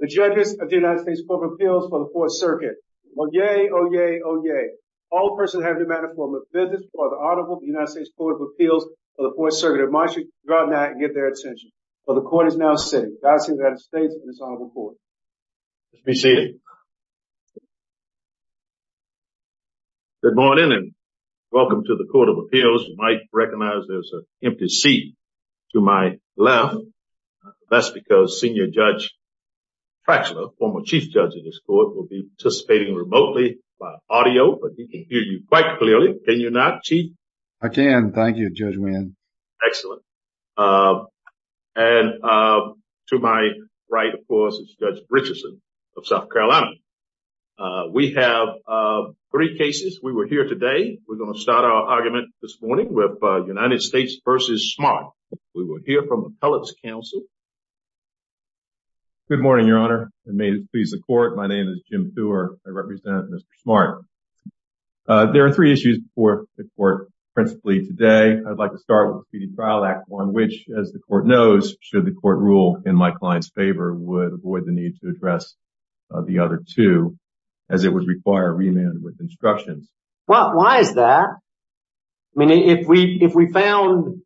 the judges of the United States Court of Appeals for the Fourth Circuit. Oh yay, oh yay, oh yay. All persons having a matter of formal business before the Honorable of the United States Court of Appeals for the Fourth Circuit admonish you to drop that and get their attention. For the court is now sitting. God save the United States and its Honorable Court. Let's be seated. Good morning and welcome to the Court of Appeals. You might recognize there's an left. That's because Senior Judge Fraxler, former Chief Judge in this court, will be participating remotely by audio, but he can hear you quite clearly. Can you not, Chief? I can. Thank you, Judge Mann. Excellent. And to my right, of course, is Judge Richardson of South Carolina. We have three cases. We were here today. We're going to start our argument this morning with United States v. Smart. We will hear from Appellate's counsel. Good morning, Your Honor, and may it please the court. My name is Jim Thurr. I represent Mr. Smart. There are three issues before the court principally today. I'd like to start with the Competing Trial Act, one which, as the court knows, should the court rule in my client's favor, would avoid the need to address the other two, as it would require remand with instructions. Why is that? I mean, if we found,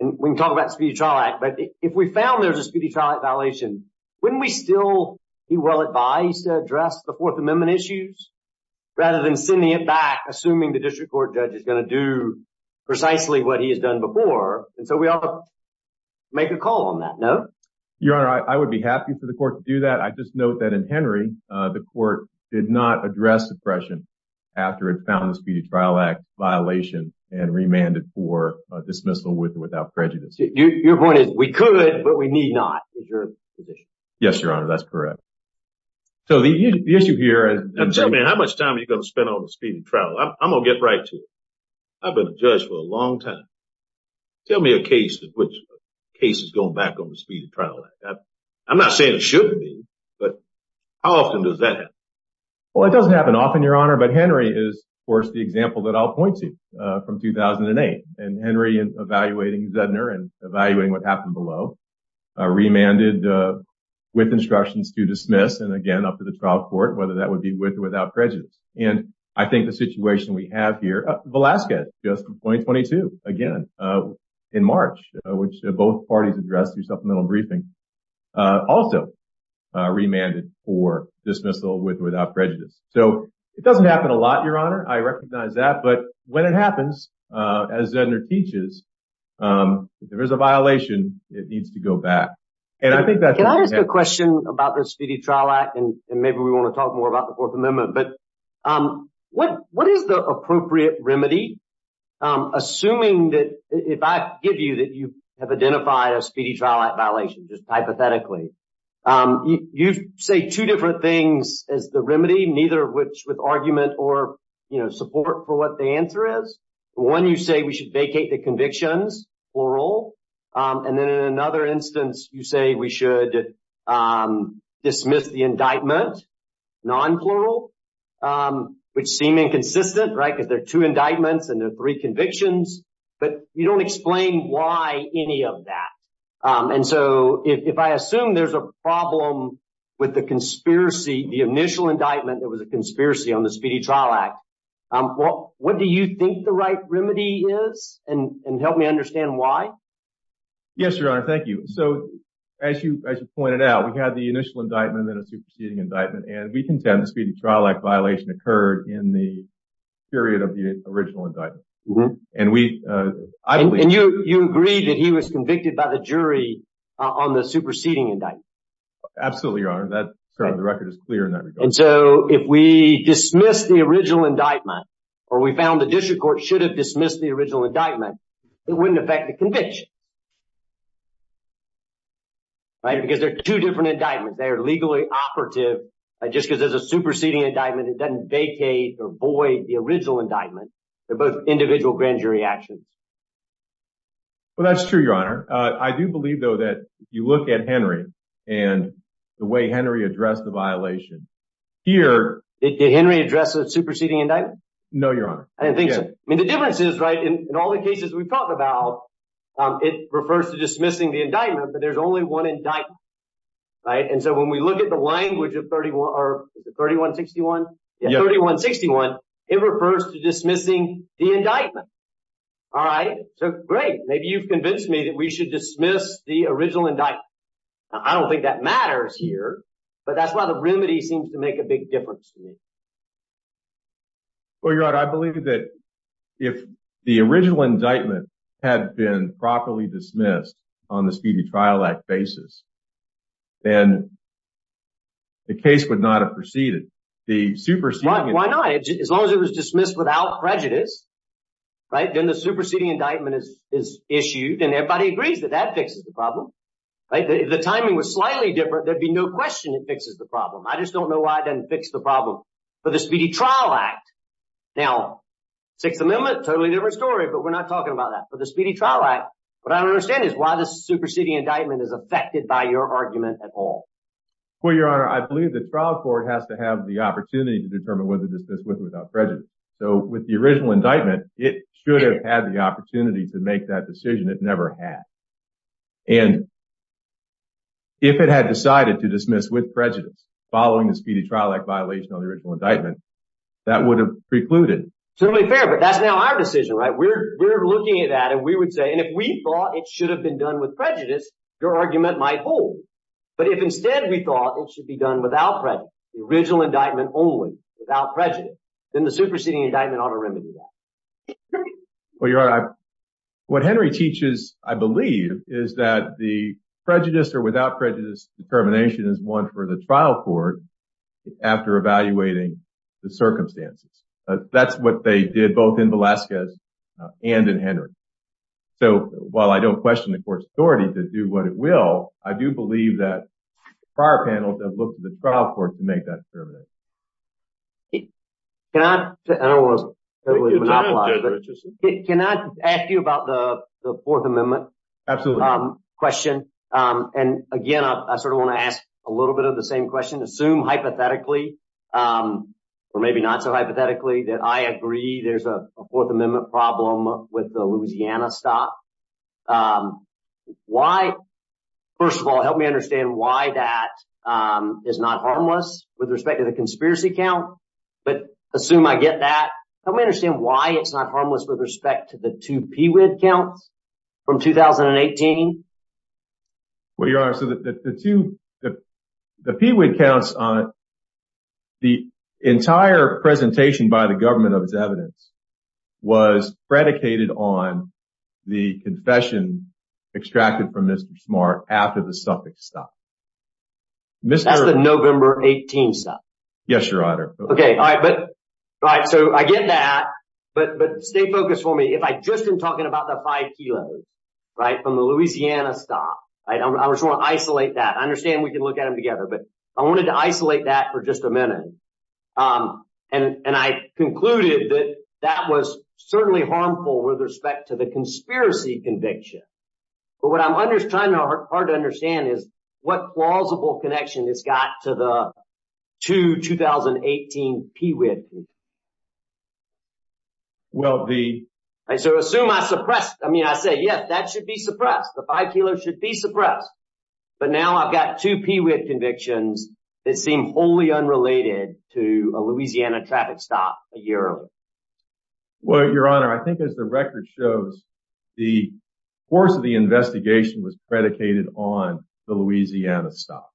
and we can talk about the Speedy Trial Act, but if we found there's a Speedy Trial Act violation, wouldn't we still be well advised to address the Fourth Amendment issues rather than sending it back, assuming the district court judge is going to do precisely what he has done before? And so we ought to make a call on that, no? Your Honor, I would be happy for the court to do that. I just note that in Henry, the court did not address suppression after it found the Speedy Trial Act violation and remanded for dismissal with or without prejudice. Your point is, we could, but we need not, is your position? Yes, Your Honor, that's correct. So the issue here... Now tell me, how much time are you going to spend on the Speedy Trial Act? I'm going to get right to it. I've been a judge for a long time. Tell me a case in which a case is going back on the Speedy Trial Act. I'm not saying it shouldn't be, but how often does that happen? Well, it doesn't happen often, Your Honor, but Henry is, of course, the example that I'll point to from 2008. And Henry is evaluating Zedner and evaluating what happened below, remanded with instructions to dismiss, and again, up to the trial court, whether that would be with or without prejudice. And I think the situation we have here, Velasquez, just in 2022, again, in March, which both parties addressed through supplemental briefing, also remanded for dismissal with or without prejudice. So it doesn't happen a lot, Your Honor. I recognize that. But when it happens, as Zedner teaches, if there's a violation, it needs to go back. Can I ask a question about the Speedy Trial Act? And maybe we want to talk about the Fourth Amendment. But what is the appropriate remedy? Assuming that, if I give you that you have identified a Speedy Trial Act violation, just hypothetically, you say two different things as the remedy, neither with argument or support for what the answer is. One, you say we should vacate the convictions, plural. And then in another instance, you say we should dismiss the indictment, non-plural, which seem inconsistent, right, because there are two indictments and there are three convictions. But you don't explain why any of that. And so, if I assume there's a problem with the conspiracy, the initial indictment that was a conspiracy on the Speedy Trial Act, what do you think the right remedy is? And help me understand why. Yes, Your Honor. Thank you. So, as you pointed out, we had the initial indictment and a superseding indictment. And we contend the Speedy Trial Act violation occurred in the period of the original indictment. And we, I believe... And you agree that he was convicted by the jury on the superseding indictment? Absolutely, Your Honor. The record is clear in that regard. And so, if we dismiss the original indictment, or we found the district court should have conviction, right, because there are two different indictments. They are legally operative just because there's a superseding indictment. It doesn't vacate or void the original indictment. They're both individual grand jury actions. Well, that's true, Your Honor. I do believe, though, that you look at Henry and the way Henry addressed the violation here... Did Henry address the superseding indictment? No, Your Honor. I didn't think so. I mean, the difference is, right, in all the cases we've talked about, it refers to dismissing the indictment, but there's only one indictment. Right? And so, when we look at the language of 3161, it refers to dismissing the indictment. All right? So, great. Maybe you've convinced me that we should dismiss the original indictment. I don't think that matters here, but that's why the remedy seems to make a big difference to me. Well, Your Honor, I believe that if the original indictment had been properly dismissed on the Speedy Trial Act basis, then the case would not have proceeded. The superseding... Why not? As long as it was dismissed without prejudice, right, then the superseding indictment is issued and everybody agrees that that fixes the problem, right? If the timing was slightly different, there'd be no question it fixes the problem. I just don't know why it doesn't fix the problem for the Speedy Trial Act. Now, Sixth Amendment, totally different story, but we're not talking about that. For the Speedy Trial Act, what I don't understand is why the superseding indictment is affected by your argument at all. Well, Your Honor, I believe the trial court has to have the opportunity to determine whether to dismiss with or without prejudice. So, with the original indictment, it should have had the opportunity to make that decision. It never had. And if it had decided to dismiss with prejudice, following the Speedy Trial Act violation on the original indictment, that would have precluded. Totally fair, but that's now our decision, right? We're looking at that and we would say, and if we thought it should have been done with prejudice, your argument might hold. But if instead we thought it should be done without prejudice, the original indictment only, without prejudice, then the superseding indictment ought to is that the prejudice or without prejudice determination is one for the trial court after evaluating the circumstances. That's what they did both in Velasquez and in Henry. So, while I don't question the court's authority to do what it will, I do believe that prior panels have looked at the trial court to make that determination. Can I ask you about the Fourth Amendment question? And again, I sort of want to ask a little bit of the same question. Assume hypothetically, or maybe not so hypothetically, that I agree there's a Fourth Amendment problem with the Louisiana stop. First of all, help me understand why that is not harmless with respect to the conspiracy count, but assume I get that. Help me understand why it's not harmless with respect to the two PWID counts from 2018. Well, Your Honor, so the two, the PWID counts on it, the entire presentation by the government of its evidence was predicated on the confession extracted from Mr. Smart after the Suffolk stop. That's the November 18th stop. Yes, Your Honor. Okay, all right. So, I get that, but stay focused for me. If I just am talking about the five kilos, right, from the Louisiana stop, I just want to isolate that. I understand we can look at them together, but I wanted to isolate that for just a minute. And I concluded that that was certainly harmful with respect to conspiracy conviction. But what I'm trying hard to understand is what plausible connection it's got to the two 2018 PWID. So, assume I suppressed, I mean, I say, yes, that should be suppressed. The five kilos should be suppressed. But now I've got two PWID convictions that seem wholly unrelated to a Louisiana traffic stop a year earlier. Well, Your Honor, I think as the record shows, the course of the investigation was predicated on the Louisiana stop.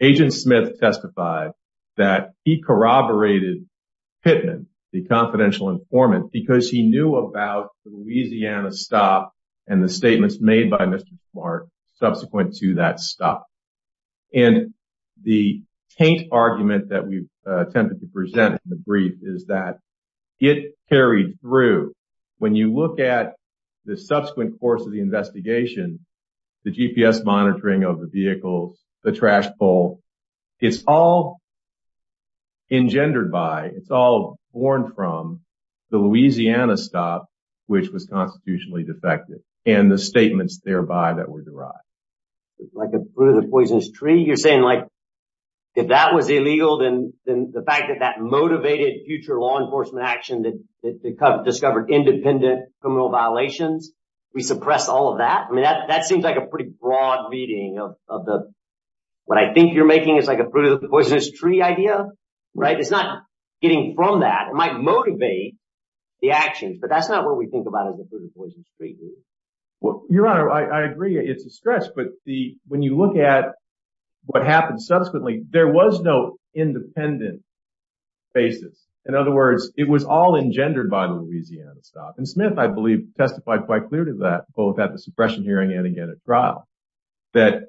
Agent Smith testified that he corroborated Pittman, the confidential informant, because he knew about the Louisiana stop and the statements made by Mr. Smart subsequent to that stop. And the argument that we've attempted to present in the brief is that it carried through. When you look at the subsequent course of the investigation, the GPS monitoring of the vehicles, the trash pull, it's all engendered by, it's all born from the Louisiana stop, which was constitutionally defective and the statements thereby that were derived. Like a fruit of the poisonous tree? You're saying like, if that was illegal, then the fact that that motivated future law enforcement action that discovered independent criminal violations, we suppress all of that? I mean, that seems like a pretty broad reading of the, what I think you're making is like a fruit of the poisonous tree idea, right? It's not getting from that. It might motivate the actions, but that's not what we think about as a fruit of the poisonous tree. Your Honor, I agree it's a stress, but when you look at what happened subsequently, there was no independent basis. In other words, it was all engendered by the Louisiana stop. And Smith, I believe, testified quite clear to that, both at the suppression hearing and again at trial, that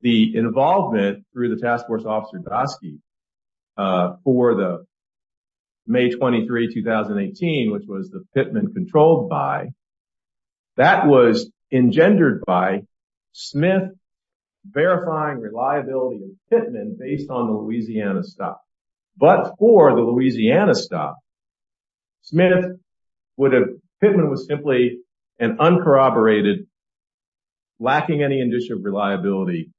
the involvement through the task force officer Dasky for the May 23, 2018, which was the Pittman controlled by, that was engendered by Smith verifying reliability of Pittman based on the Louisiana stop. But for the Louisiana stop, Smith would have, Pittman was simply an uncorroborated, lacking any indicia of reliability,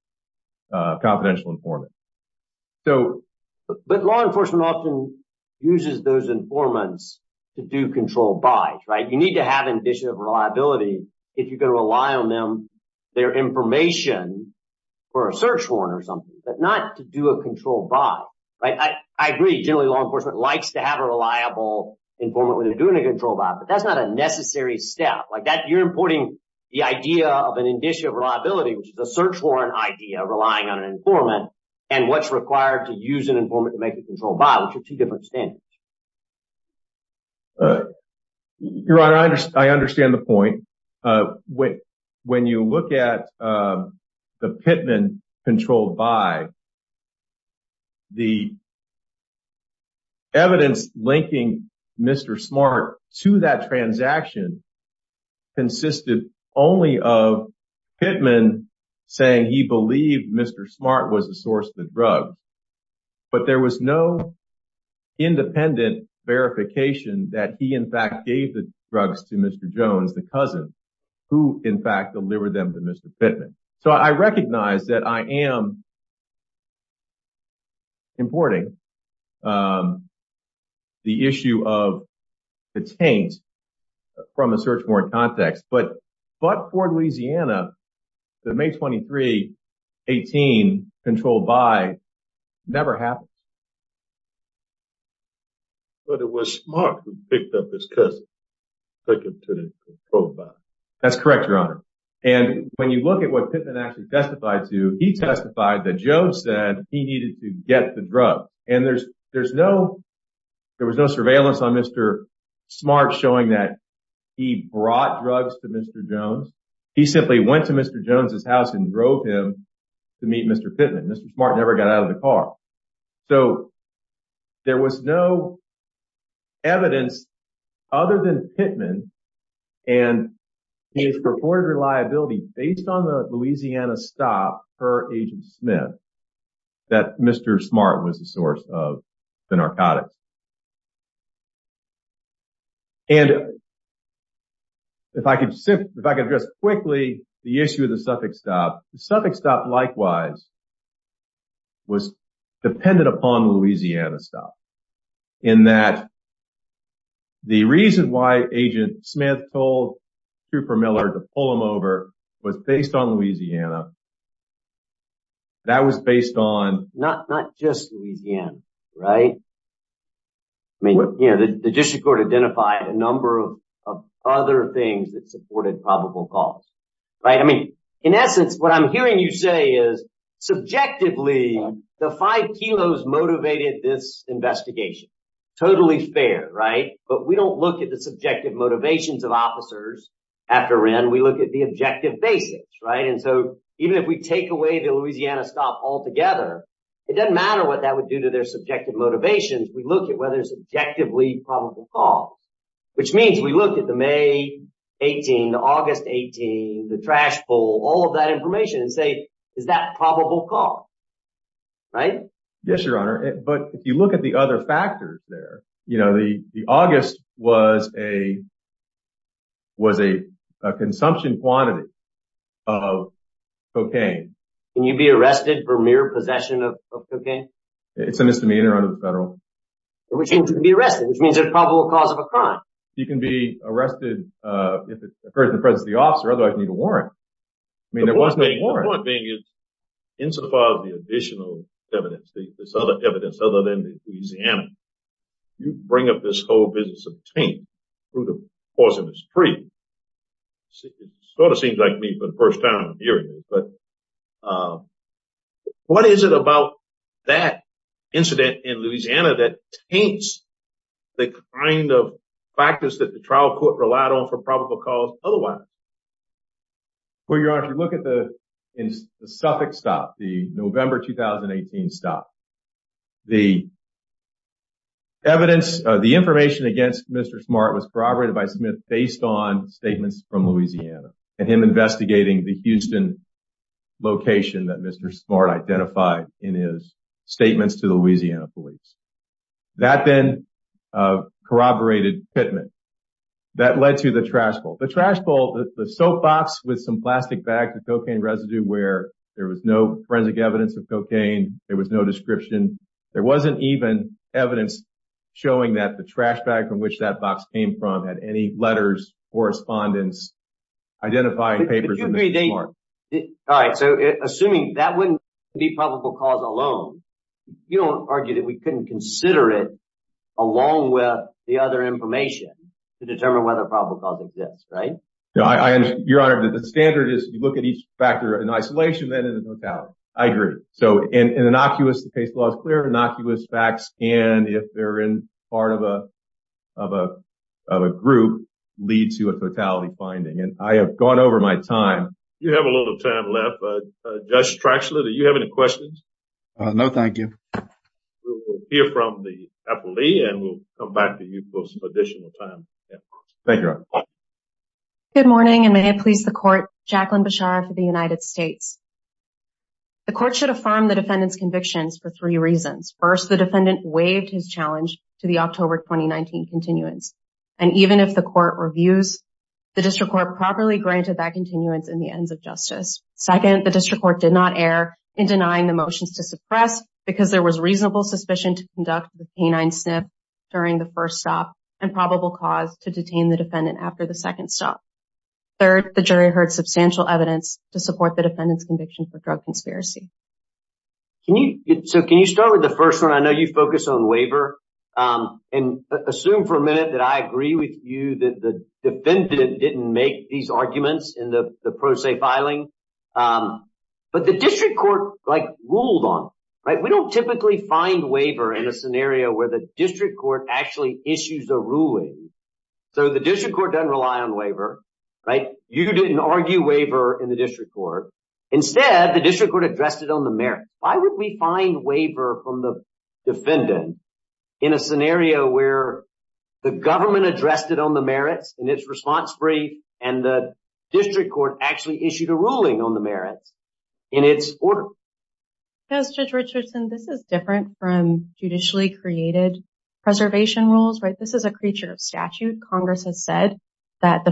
confidential informant. But law enforcement often uses those informants to do control buys, right? You need to have indicia of reliability if you're going to rely on them, their information for a search warrant or something, but not to do a control buy, right? I agree generally law enforcement likes to have a reliable informant when they're doing a control buy, but that's not a necessary step. Like that, you're importing the idea of an indicia of reliability, which is a search warrant idea, relying on an informant and what's required to use an informant to make a control buy, which are two different standards. Your Honor, I understand the point. When you look at the Pittman control buy, the evidence linking Mr. Smart to that transaction consisted only of Pittman saying he believed Mr. Smart was the source of the drug, but there was no independent verification that he in fact gave the drugs to Mr. Jones, the cousin, who in fact delivered them to Mr. Pittman. So I recognize that I am importing the issue of the taint from a search warrant context, but for Louisiana, the May 23, 18 control buy never happened. But it was Smart who picked up his cousin, took him to the control buy. That's correct, Your Honor. And when you look at what Pittman actually testified to, he testified that Joe said he needed to get the drug. And there was no surveillance on Mr. Smart showing that he brought drugs to Mr. Jones. He simply went to Mr. Jones' house and drove him to meet Mr. Pittman. Mr. Smart never got out of the car. So there was no evidence other than that Mr. Pittman and his purported reliability based on the Louisiana stop per Agent Smith, that Mr. Smart was the source of the narcotics. And if I could address quickly the issue of the Suffolk stop, the Suffolk stop likewise was dependent upon the Louisiana stop in that the reason why Agent Smith told Cooper Miller to pull him over was based on Louisiana. That was based on... Not just Louisiana, right? I mean, you know, the district court identified a number of other things that supported probable cause, right? I mean, in essence, what I'm hearing you say is subjectively the five kilos motivated this investigation. Totally fair, right? But we don't look at the subjective motivations of officers after Wren. We look at the objective basics, right? And so even if we take away the Louisiana stop altogether, it doesn't matter what that would do to their subjective motivations. We look at whether it's objectively probable cause, which means we look at the May 18, the August 18, the trash pull, all of that information and say, is that probable cause? Right? Yes, Your Honor. But if you look at the other factors there, you know, the August was a consumption quantity of cocaine. Can you be arrested for mere possession of cocaine? It's a misdemeanor under the federal... Which means you can be arrested, which means there's probable cause of a crime. You can be arrested if it occurs in the presence of the officer, otherwise you need a warrant. I mean, the point being is, insofar as the additional evidence, this other evidence, other than the Louisiana, you bring up this whole business of taint through the course of this treaty. It sort of seems like me for the first time hearing this, but what is it about that incident in Louisiana that taints the kind of practice that the trial court relied on for your honor? If you look at the Suffolk stop, the November 2018 stop, the evidence, the information against Mr. Smart was corroborated by Smith based on statements from Louisiana and him investigating the Houston location that Mr. Smart identified in his statements to the Louisiana police. That then corroborated Pittman. That led to the trash bowl. The trash bowl, the soap box with some plastic bag, the cocaine residue where there was no forensic evidence of cocaine, there was no description. There wasn't even evidence showing that the trash bag from which that box came from had any letters, correspondence, identifying papers in Mr. Smart. All right, so assuming that wouldn't be probable cause alone, you don't argue that we couldn't consider it along with the other information to determine whether probable cause exists, right? Your honor, the standard is you look at each factor in isolation, then in the totality. I agree. So in innocuous, the case law is clear, innocuous facts can, if they're in part of a group, lead to a fatality finding. And I have gone over my time. You have a little time left. Judge Strachlan, do you have any questions? No, thank you. We'll hear from the appellee and we'll come back to you for some additional time. Thank you, your honor. Good morning and may it please the court, Jacqueline Bashar for the United States. The court should affirm the defendant's convictions for three reasons. First, the defendant waived his challenge to the October 2019 continuance. And even if the court reviews, the district court properly granted that continuance in the ends of justice. Second, the district court did not err in denying the motions to suppress because there was reasonable suspicion to conduct the canine sniff during the first stop and probable cause to detain the defendant after the second stop. Third, the jury heard substantial evidence to support the defendant's conviction for drug conspiracy. So can you start with the first one? I know you focus on waiver. And assume for a minute that I agree with you that the defendant didn't make these arguments in the pro se filing. But the district court ruled on it. We don't typically find waiver in a scenario where the district court actually issues a ruling. So the district court doesn't rely on waiver. You didn't argue waiver in the district court. Instead, the district court addressed it on the merits. Why would we find waiver from the defendant in a scenario where the government addressed it on the merits in its response brief and the district court actually issued a ruling on the merits in its order? Judge Richardson, this is different from judicially created preservation rules, right? This is a creature of statute. Congress has said that the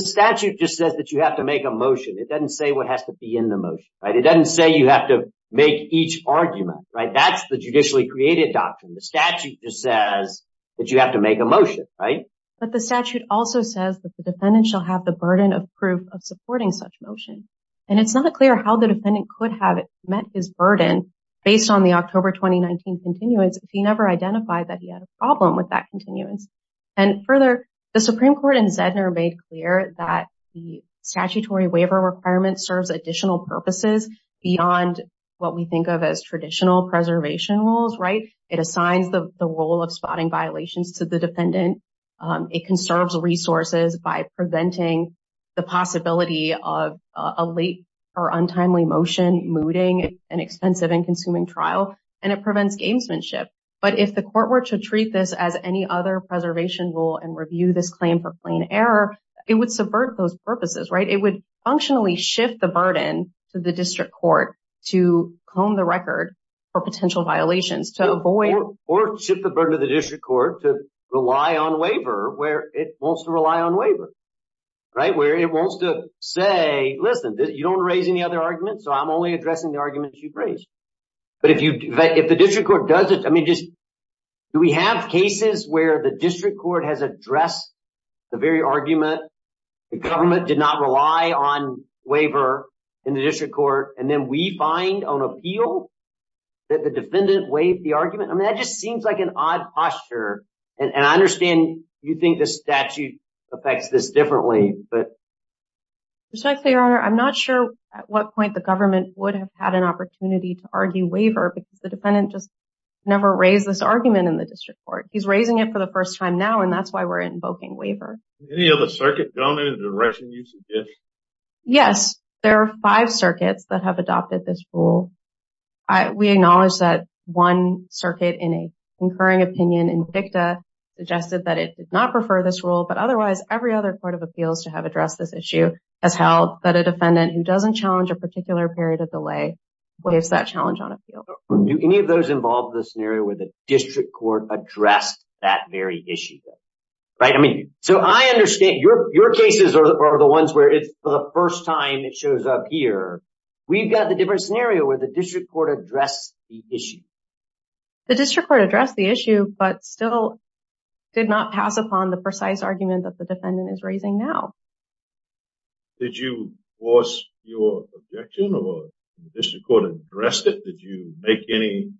statute just says that you have to make a motion. It doesn't say what has to be in the motion, right? It doesn't say you have to make each argument, right? That's the judicially created doctrine. The statute just says that you have to make a motion, right? But the statute also says that the defendant shall have the burden of proof of supporting such motion. And it's not clear how the defendant could have met his burden based on the October 2019 continuance if he never identified that he had a problem with that continuance. And further, the Supreme Court and Zedner made clear that the statutory waiver requirement serves additional purposes beyond what we think of as traditional preservation rules, right? It assigns the role of spotting violations to the defendant. It conserves resources by preventing the possibility of a late or untimely motion, mooting, an expensive and consuming trial, and it prevents gamesmanship. But if the court were to treat this as any other preservation rule and review this claim for plain error, it would subvert those purposes, right? It would functionally shift the burden to the district court to hone the record for potential violations. Or shift the burden to the district court to rely on waiver where it wants to rely on waiver, right? Where it wants to say, listen, you don't raise any other arguments, so I'm only addressing the arguments you've raised. But if the district court does it, I mean, do we have cases where the district court has addressed the very argument, the government did not rely on waiver in the district court, and then we find on appeal that the defendant waived the argument? I mean, that just seems like an odd posture. And I understand you think the statute affects this differently, but... Respectfully, Your Honor, I'm not sure at what point the government would have had an opportunity to argue waiver because the defendant just never raised this argument in the district court. He's raising it for the first time now, and that's why we're invoking waiver. Any other circuit, Your Honor, in the direction you suggest? Yes, there are five circuits that have adopted this rule. We acknowledge that one circuit in a concurring opinion in DICTA suggested that it did not prefer this rule, but otherwise, every other court of appeals to have addressed this issue has held that a defendant who doesn't challenge a particular period of delay waives that challenge on appeal. Do any of those involve the scenario where the district court addressed that very issue? Right? I mean, so I understand your cases are the ones where it's for the first time it shows up here. We've got the different scenario where the district court addressed the issue. The district court addressed the issue, but still did not pass upon the precise argument that the defendant is raising now. Did you force your objection or the district court addressed it? Did you make any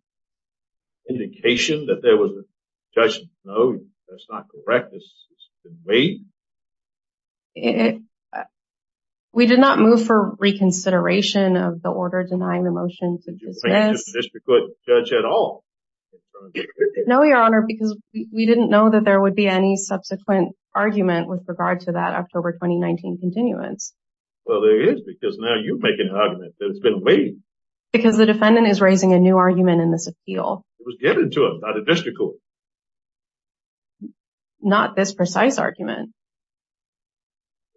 indication that there was a judgment? No, that's not correct. This has been waived. We did not move for reconsideration of the order denying the motion to dismiss. Do you think the district court judged at all? No, Your Honor, because we didn't know that there would be any subsequent argument with regard to that October 2019 continuance. Well, there is because now you're making an argument that it's been waived. Because the defendant is raising a new argument in this appeal. It was given to him by the district court. Not this precise argument.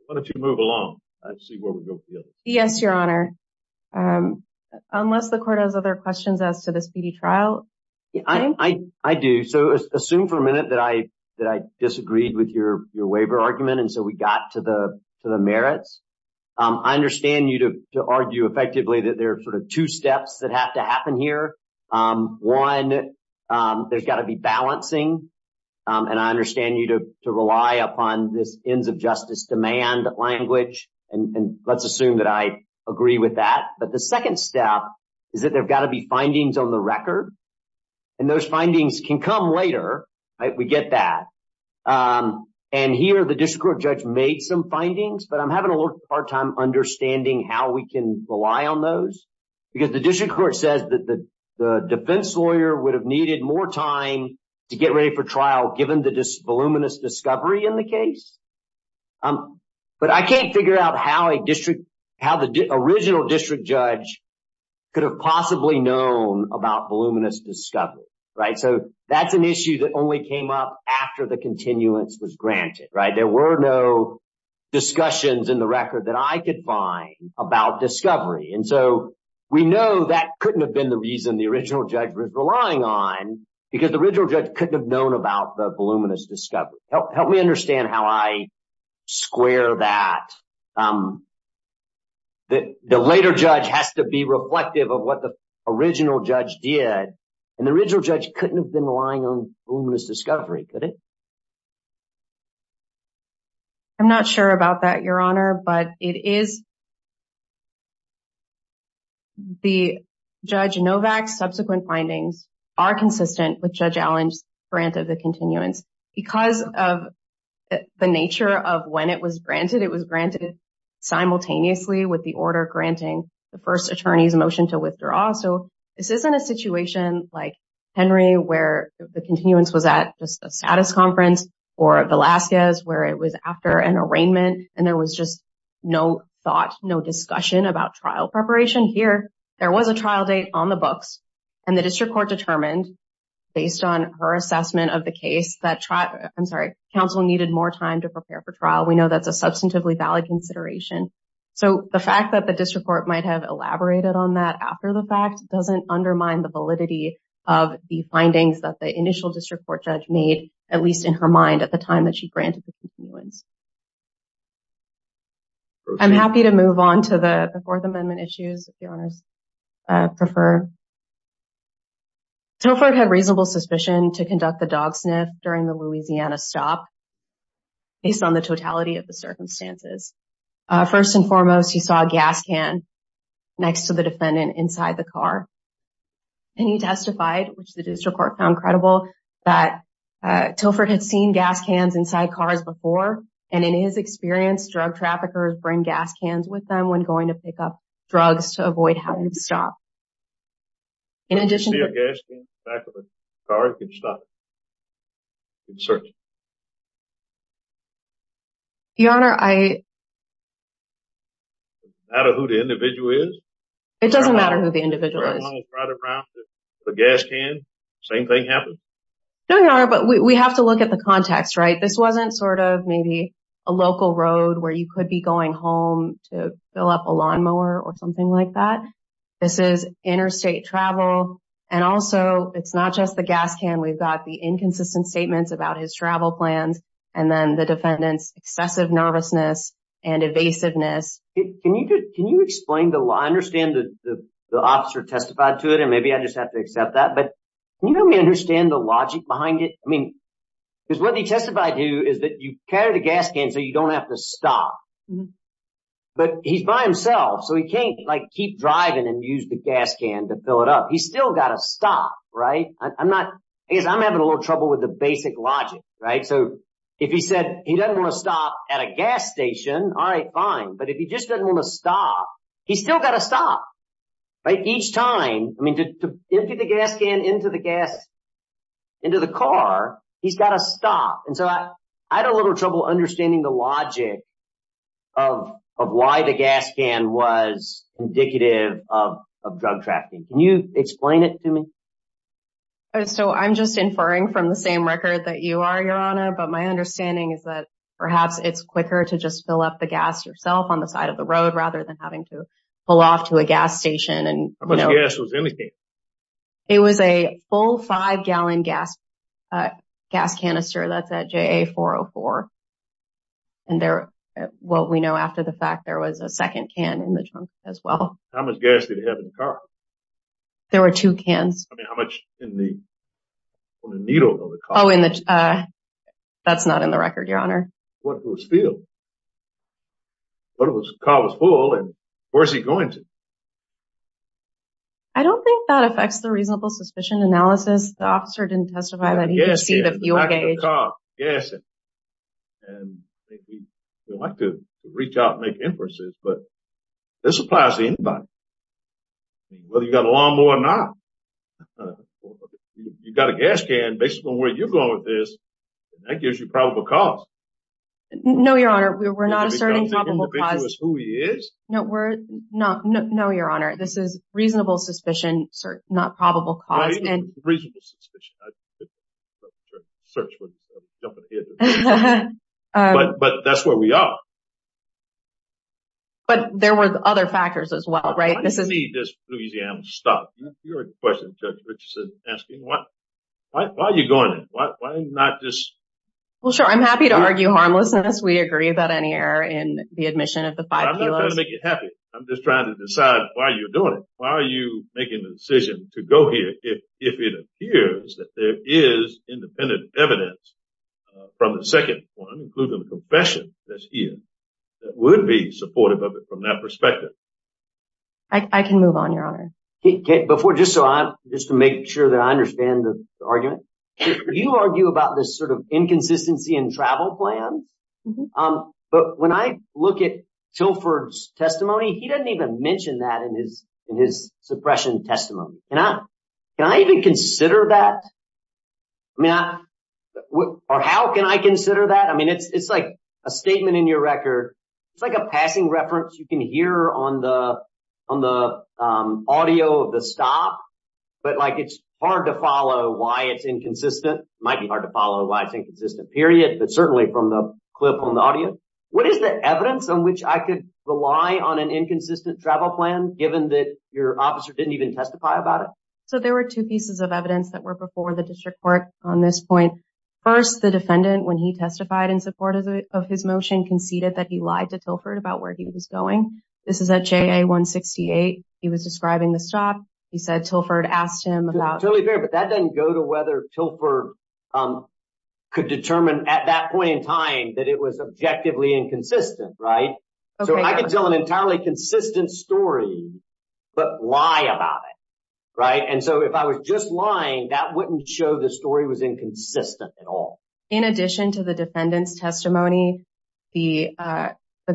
Why don't you move along? Let's see where we go from here. Yes, Your Honor. Unless the court has other questions as to the speedy trial. I do. So assume for a minute that I disagreed with your waiver argument and so we got to the merits. I understand you to argue effectively that there are sort of two steps that have to happen here. One, there's got to be balancing. And I understand you to rely upon this ends of justice demand language. And let's assume that I agree with that. But the second step is that there's got to be findings on the record. And those findings can come later. We get that. And here, the district court judge made some findings, but I'm having a hard time understanding how we can rely on those. Because the district court says that the defense lawyer would have needed more time to get ready for trial given the voluminous discovery in the case. But I can't figure out how the original district judge could have possibly known about voluminous discovery. So that's an issue that only came up after the continuance was granted. There were no in the record that I could find about discovery. And so we know that couldn't have been the reason the original judge was relying on because the original judge couldn't have known about the voluminous discovery. Help me understand how I square that. The later judge has to be reflective of what the original judge did. And the original judge couldn't have been relying on voluminous discovery, could it? I'm not sure about that, Your Honor, but it is. The Judge Novak's subsequent findings are consistent with Judge Allen's grant of the continuance because of the nature of when it was granted. It was granted simultaneously with the order granting the first attorney's motion to withdraw. So this isn't a situation like Henry where the continuance was at just a status conference or Velasquez where it was after an arraignment and there was just no thought, no discussion about trial preparation. Here, there was a trial date on the books and the district court determined based on her assessment of the case that counsel needed more time to prepare for trial. We know that's a substantively valid consideration. So the fact that the district court might have elaborated on that after the fact doesn't undermine the validity of the findings that the initial district court judge made, at least in her mind, at the time that she granted the continuance. I'm happy to move on to the Fourth Amendment issues if Your Honors prefer. Telford had reasonable suspicion to conduct the dog sniff during the Louisiana stop based on the totality of the circumstances. First and foremost, he saw a gas can next to the car and he testified, which the district court found credible, that Telford had seen gas cans inside cars before and in his experience, drug traffickers bring gas cans with them when going to pick up drugs to avoid having to stop. In addition, you see a gas can in the back of a car, you can stop it. You can search it. Your Honor, it doesn't matter who the individual is. It doesn't matter who the individual is. Right around the gas can, same thing happened? No, Your Honor, but we have to look at the context, right? This wasn't sort of maybe a local road where you could be going home to fill up a lawnmower or something like that. This is interstate travel and also it's not just the gas can. We've got the inconsistent statements about his travel plans and then the defendant's excessive nervousness and evasiveness. Can you explain? I understand the officer testified to it and maybe I just have to accept that, but can you help me understand the logic behind it? Because what he testified to is that you carry the gas can so you don't have to stop, but he's by himself so he can't keep driving and use the gas can to fill it up. He's still got to stop, right? I'm having a little trouble with the basic logic, right? So if he said he doesn't want to stop at a gas station, all right, fine, but if he just doesn't want to stop, he's still got to stop, right? Each time, I mean, to empty the gas can into the car, he's got to stop. And so I had a little trouble understanding the logic of why the gas can was indicative of drug trafficking. Can you explain it to me? So I'm just inferring from the same record that you are, Your Honor, but my understanding is that perhaps it's quicker to just fill up the gas yourself on the side of the road rather than having to pull off to a gas station. How much gas was anything? It was a full five-gallon gas canister. That's at JA-404. And there, well, we know after the fact, there was a second can in the trunk as well. How much gas did it have in the car? There were two cans. I mean, how much in the, on the needle of the car? Oh, in the, that's not in the record, Your Honor. What was filled? But it was, the car was full, and where's he going to? I don't think that affects the reasonable suspicion analysis. The officer didn't testify that he could see the fuel gauge. And we like to reach out and make inferences, but this applies to anybody. I mean, whether you've got a lawnmower or not, you've got a gas can, based on where you're going with this, and that gives you probable cause. No, Your Honor, we're not asserting probable cause. Is who he is? No, we're not. No, Your Honor, this is reasonable suspicion, not probable cause. Reasonable suspicion. But that's where we are. But there were other factors as well, right? Why do you need this Louisiana stuff? You heard the question, Judge Richardson, asking, why are you going there? Why are you not just? Well, sure, I'm happy to argue harmlessness. We agree about any error in the admission of the five kilos. I'm not trying to make you happy. I'm just trying to decide why you're doing it. Why are you making the decision to go here if it appears that there is independent evidence from the second one, including the confession that's here, that would be supportive of it from that perspective? I can move on, Your Honor. Before, just to make sure that I understand the argument, you argue about this sort of inconsistency in travel plans. But when I look at Tilford's testimony, he doesn't even mention that in his suppression testimony. Can I even consider that? Or how can I consider that? It's like a statement in your record. It's like a passing reference you can hear on the audio of the stop. But it's hard to follow why it's inconsistent. It might be hard to follow why it's inconsistent, period, but certainly from the clip on the audio. What is the evidence on which I could rely on an inconsistent travel plan, given that your officer didn't even testify about it? So there were two pieces of evidence that were before the district court on this point. First, the defendant, when he testified in support of his motion, conceded that he lied to Tilford about where he was going. This is at JA-168. He was describing the stop. He said Tilford asked him about... Totally fair, but that doesn't go to whether Tilford could determine at that point in time that it was objectively inconsistent, right? So I could tell an entirely consistent story but lie about it, right? And so if I was just lying, that wouldn't show the story was inconsistent at all. In addition to the defendant's testimony, the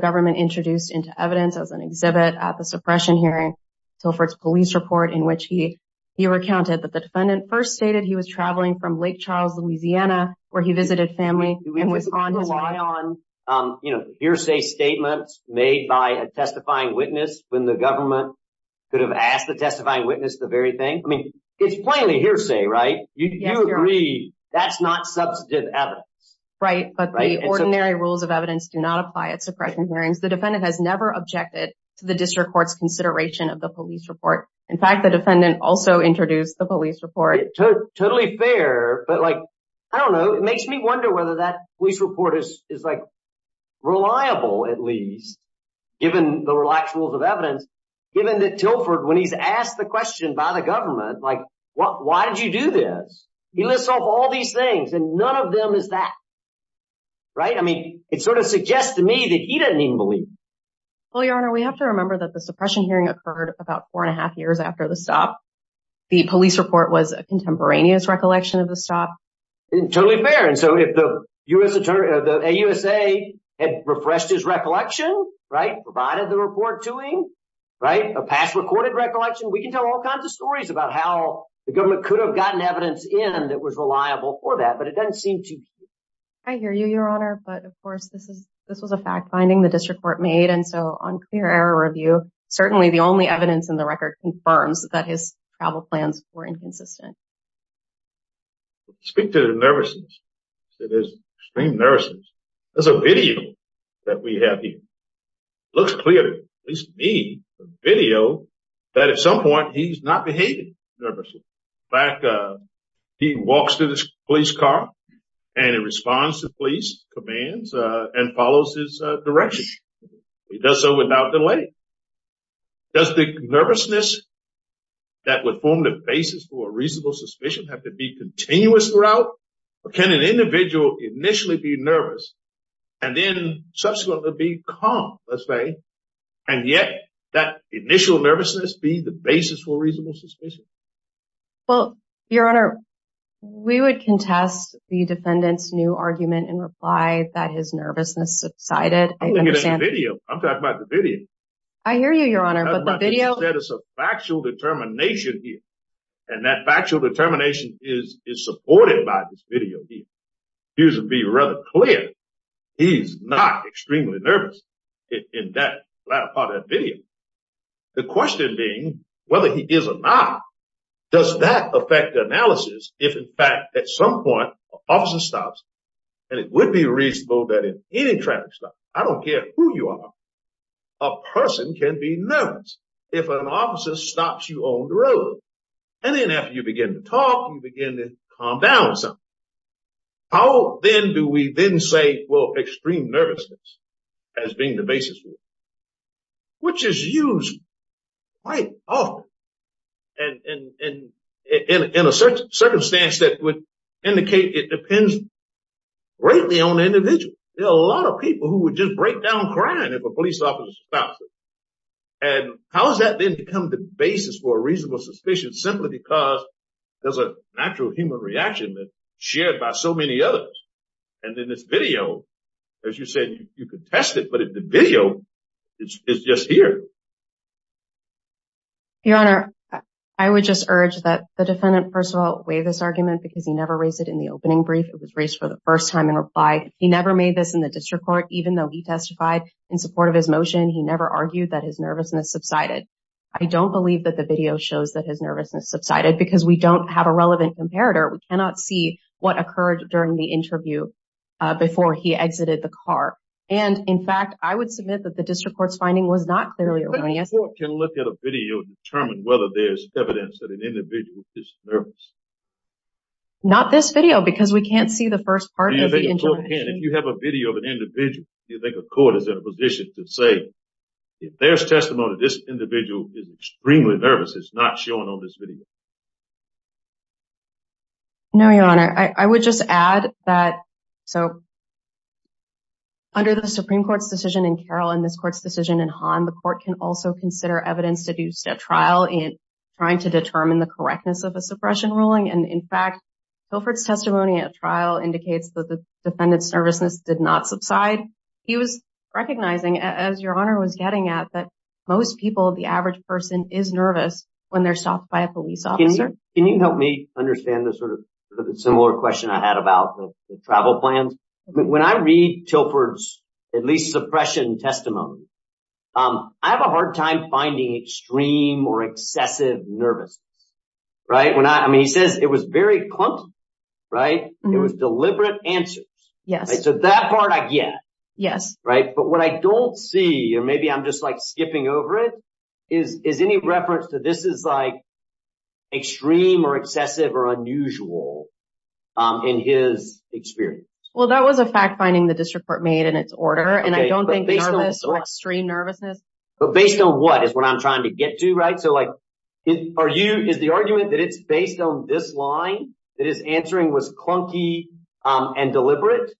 government introduced into evidence as an exhibit at the suppression hearing Tilford's police report in which he recounted that the defendant first stated he was traveling from Lake Charles, Louisiana, where he visited family and was on his way. You could rely on hearsay statements made by a testifying witness when the government could have asked the testifying witness the very thing. I mean, it's plainly hearsay, right? You agree that's not substantive evidence. Right, but the ordinary rules of evidence do not apply at suppression hearings. The defendant has never objected to the district court's consideration of the police report. In fact, the defendant also introduced the police report. Totally fair, but like, I don't know, it makes me wonder whether that police report is like reliable, at least, given the rules of evidence, given that Tilford, when he's asked the question by the government, like, why did you do this? He lists off all these things and none of them is that, right? I mean, it sort of suggests to me that he doesn't even believe it. Well, Your Honor, we have to remember that the suppression hearing occurred about four and a half hours after the stop. The police report was a contemporaneous recollection of the stop. Totally fair, and so if the AUSA had refreshed his recollection, right, provided the report to him, right, a past recorded recollection, we can tell all kinds of stories about how the government could have gotten evidence in that was reliable for that, but it doesn't seem to. I hear you, Your Honor, but of course, this was a fact finding the district court made, and so on clear error review, certainly the only evidence in the record confirms that his travel plans were inconsistent. Speak to the nervousness. It is extreme nervousness. There's a video that we have here. Looks clear, at least to me, a video that at some point he's not behaving nervously. In fact, he walks to this police car and he responds to police commands and follows his direction. He does so without delay. Does the nervousness that would form the basis for a reasonable suspicion have to be continuous throughout, or can an individual initially be nervous and then subsequently be calm, let's say, and yet that initial nervousness be the basis for reasonable suspicion? Well, Your Honor, we would contest the defendant's argument in reply that his nervousness subsided. I'm talking about the video. I hear you, Your Honor, but the video- You said it's a factual determination here, and that factual determination is supported by this video here. Here's to be rather clear, he's not extremely nervous in that latter part of that video. The question being, whether he is or not, does that affect the analysis if, in fact, at some point, an officer stops, and it would be reasonable that in any traffic stop, I don't care who you are, a person can be nervous if an officer stops you on the road. Then after you begin to talk, you begin to calm down or something. How then do we then say, well, extreme nervousness has been the basis for it, which is used quite often in a circumstance that would indicate it depends greatly on the individual? There are a lot of people who would just break down crying if a police officer stops them. How has that then become the basis for a reasonable suspicion simply because there's a natural human reaction that's shared by so many others? Then this video, as you said, you could test it, but the video is just here. Your Honor, I would just urge that the defendant, first of all, weigh this argument because he never raised it in the opening brief. It was raised for the first time in reply. He never made this in the district court, even though he testified in support of his motion. He never argued that his nervousness subsided. I don't believe that the video shows that his nervousness subsided because we don't have a relevant comparator. We cannot see what occurred during the interview before he exited the car. In fact, I would submit that the district court's finding was not clearly erroneous. The court can look at a video and determine whether there's evidence that an individual is nervous. Not this video because we can't see the first part of the intervention. If you have a video of an individual, do you think a court is in a position to say, if there's testimony that this individual is extremely nervous, it's not showing on this video? No, Your Honor. I would just add that, so, under the Supreme Court's decision in Carroll and this court's decision in Hahn, the court can also consider evidence deduced at trial in trying to determine the correctness of a suppression ruling. And in fact, Guilford's testimony at trial indicates that the defendant's nervousness did not subside. He was recognizing, as Your Honor was getting at, that most people, the average person, is nervous when they're stopped by a police officer. Can you help me understand the sort of similar question I had about the travel plans? When I read Tilford's, at least, suppression testimony, I have a hard time finding extreme or excessive nervousness, right? I mean, he says it was very plump, right? It was deliberate answers. Yes. So, that part I get. Yes. But what I don't see, or maybe I'm just skipping over it, is any reference to this is extreme or excessive or unusual in his experience? Well, that was a fact-finding the district court made in its order, and I don't think nervous or extreme nervousness. But based on what is what I'm trying to get to, right? So, is the argument that it's based on this line, that his answering was clunky and deliberate,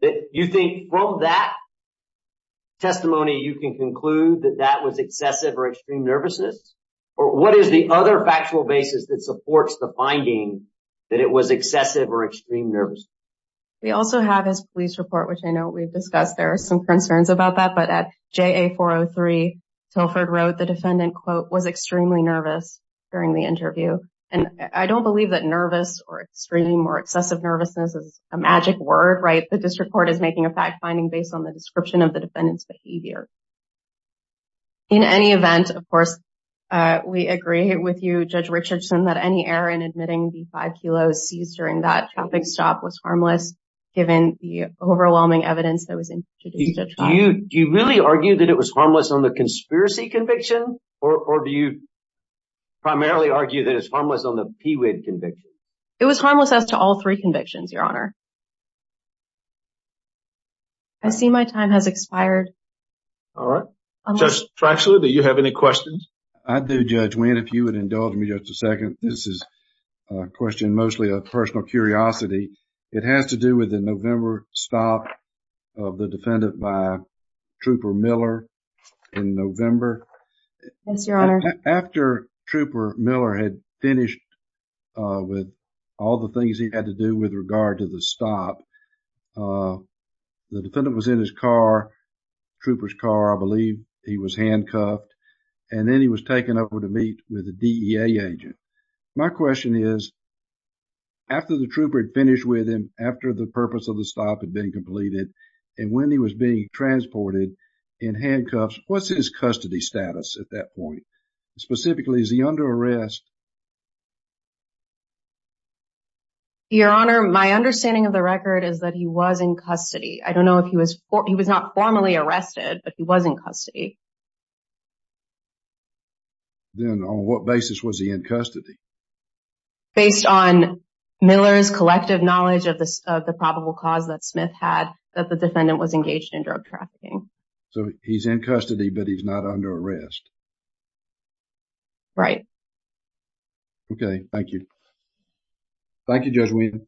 that you think from that testimony, you can conclude that that was excessive or extreme nervousness? What is the other factual basis that supports the finding that it was excessive or extreme nervousness? We also have his police report, which I know we've discussed. There are some concerns about that. But at JA-403, Tilford wrote the defendant, quote, was extremely nervous during the interview. And I don't believe that nervous or extreme or excessive nervousness is a magic word, right? The district court is making a fact-finding based on the description of the defendant's behavior. In any event, of course, we agree with you, Judge Richardson, that any error in admitting the five kilos seized during that traffic stop was harmless, given the overwhelming evidence that was introduced at the time. Do you really argue that it was harmless on the PWID conviction? It was harmless as to all three convictions, Your Honor. I see my time has expired. All right. Judge Trachseler, do you have any questions? I do, Judge Wynn, if you would indulge me just a second. This is a question mostly of personal curiosity. It has to do with the November stop of the defendant by Trooper Miller in November. Yes, Your Honor. After Trooper Miller had finished with all the things he had to do with regard to the stop, the defendant was in his car, Trooper's car, I believe he was handcuffed, and then he was taken over to meet with a DEA agent. My question is, after the Trooper had finished with him, after the purpose of the stop had been completed, and when he was being transported in handcuffs, what's his custody status at that point? Specifically, is he under arrest? Your Honor, my understanding of the record is that he was in custody. I don't know if he was not formally arrested, but he was in custody. Then on what basis was he in custody? Based on Miller's collective knowledge of the probable cause that Smith had, that the defendant was engaged in drug trafficking. He's in custody, but he's not under arrest? Right. Okay. Thank you. Thank you, Judge Wynn.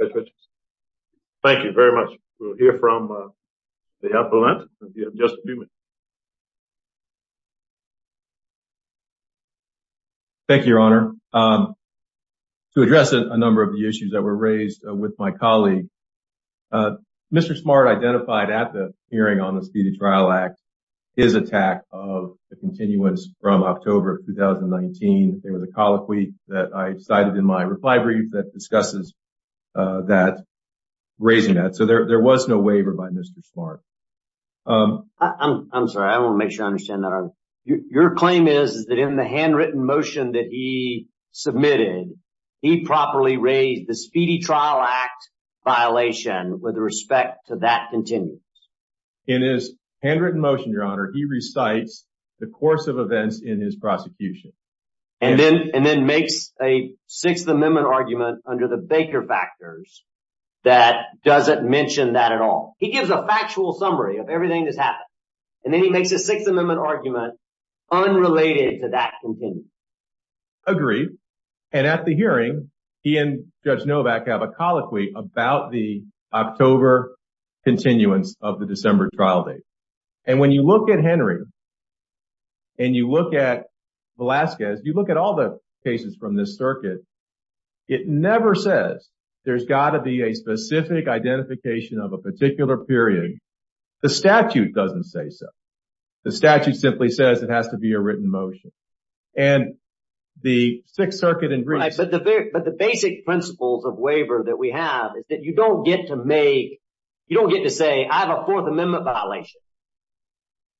Thank you very much. We'll hear from the appellant. Thank you, Your Honor. To address a number of the issues that were raised with my colleague, Mr. Smart identified at the hearing on the Speedy Trial Act, his attack of the continuance from October of 2019. There was a colloquy that I cited in my reply brief that discusses that, raising that. There was no waiver by Mr. Smart. I'm sorry. I want to make sure I understand that. Your claim is that in the handwritten motion that submitted, he properly raised the Speedy Trial Act violation with respect to that continuance? In his handwritten motion, Your Honor, he recites the course of events in his prosecution. And then makes a Sixth Amendment argument under the Baker factors that doesn't mention that at all. He gives a factual summary of everything that's happened. And then he makes a Sixth Amendment argument. And at the hearing, he and Judge Novak have a colloquy about the October continuance of the December trial date. And when you look at Henry and you look at Velazquez, you look at all the cases from this circuit, it never says there's got to be a specific identification of a particular period. The statute doesn't say so. The statute simply says it has to be a written motion. But the basic principles of waiver that we have is that you don't get to make, you don't get to say I have a Fourth Amendment violation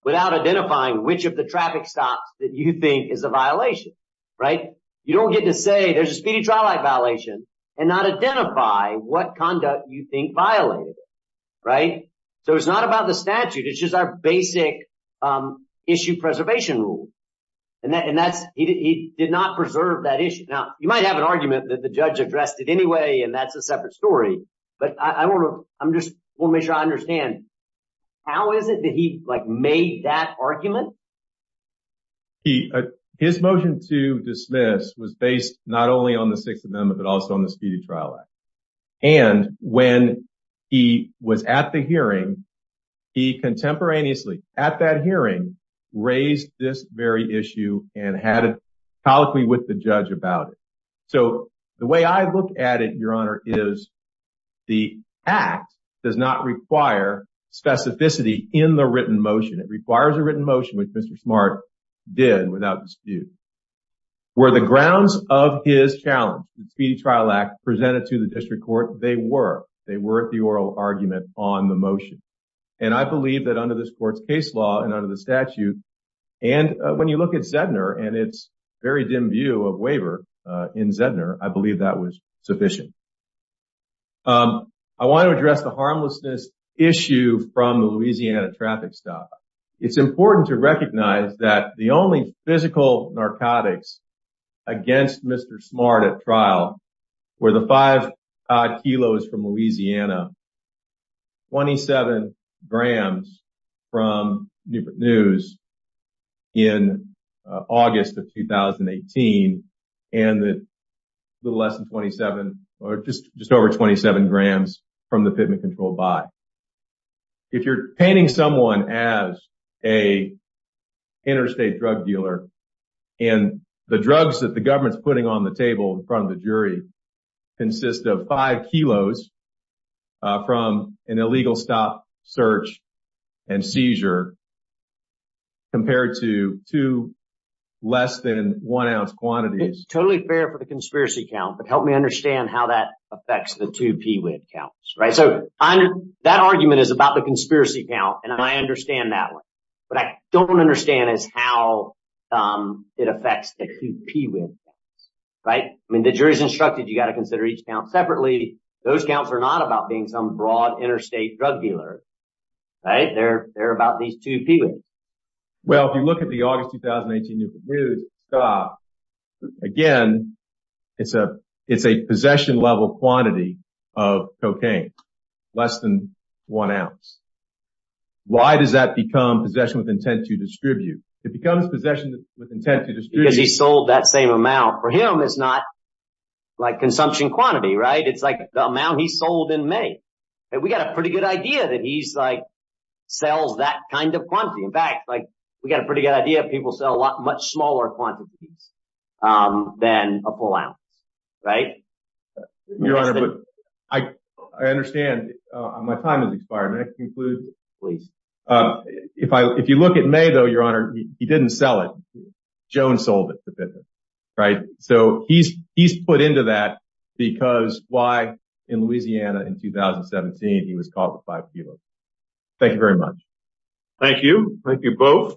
without identifying which of the traffic stops that you think is a violation. You don't get to say there's a Speedy Trial Act violation and not identify what conduct you think violated it. So it's not about the rule. And that's, he did not preserve that issue. Now, you might have an argument that the judge addressed it anyway, and that's a separate story. But I want to, I'm just want to make sure I understand. How is it that he like made that argument? He, his motion to dismiss was based not only on the Sixth Amendment, but also on the Speedy Trial Act. And when he was at the hearing, he contemporaneously, at that hearing, raised this very issue and had a colloquy with the judge about it. So the way I look at it, Your Honor, is the act does not require specificity in the written motion. It requires a written motion, which Mr. Smart did without dispute. Were the grounds of his challenge, the Speedy Trial Act, presented to the district court? They were. They were at the oral argument on the motion. And I believe that under this court's case law and under the statute, and when you look at Zedner and its very dim view of waiver in Zedner, I believe that was sufficient. I want to address the harmlessness issue from the Louisiana traffic stop. It's important to recognize that the only physical narcotics against Mr. Smart at trial were the five kilos from Louisiana, 27 grams from Newport News in August of 2018, and a little less than 27 or just over 27 grams from the Fitment Control Buy. If you're painting someone as an interstate drug dealer and the drugs that the government's putting on the table in front of the jury consist of five kilos from an illegal stop, search, and seizure compared to two less than one ounce quantities. Totally fair for the conspiracy count, but help me understand how that affects the two arguments. That argument is about the conspiracy count, and I understand that one. What I don't understand is how it affects the two PWIB counts, right? I mean, the jury's instructed you've got to consider each count separately. Those counts are not about being some broad interstate drug dealer, right? They're about these two PWIB. Well, if you look at the August one ounce, why does that become possession with intent to distribute? It becomes possession with intent to distribute. Because he sold that same amount. For him, it's not like consumption quantity, right? It's like the amount he sold in May. We got a pretty good idea that he sells that kind of quantity. In fact, we got a pretty good idea people sell a lot much included. If you look at May, though, your honor, he didn't sell it. Jones sold it to Pitman, right? So he's put into that because why in Louisiana in 2017, he was called the five kilos. Thank you very much. Thank you. Thank you both.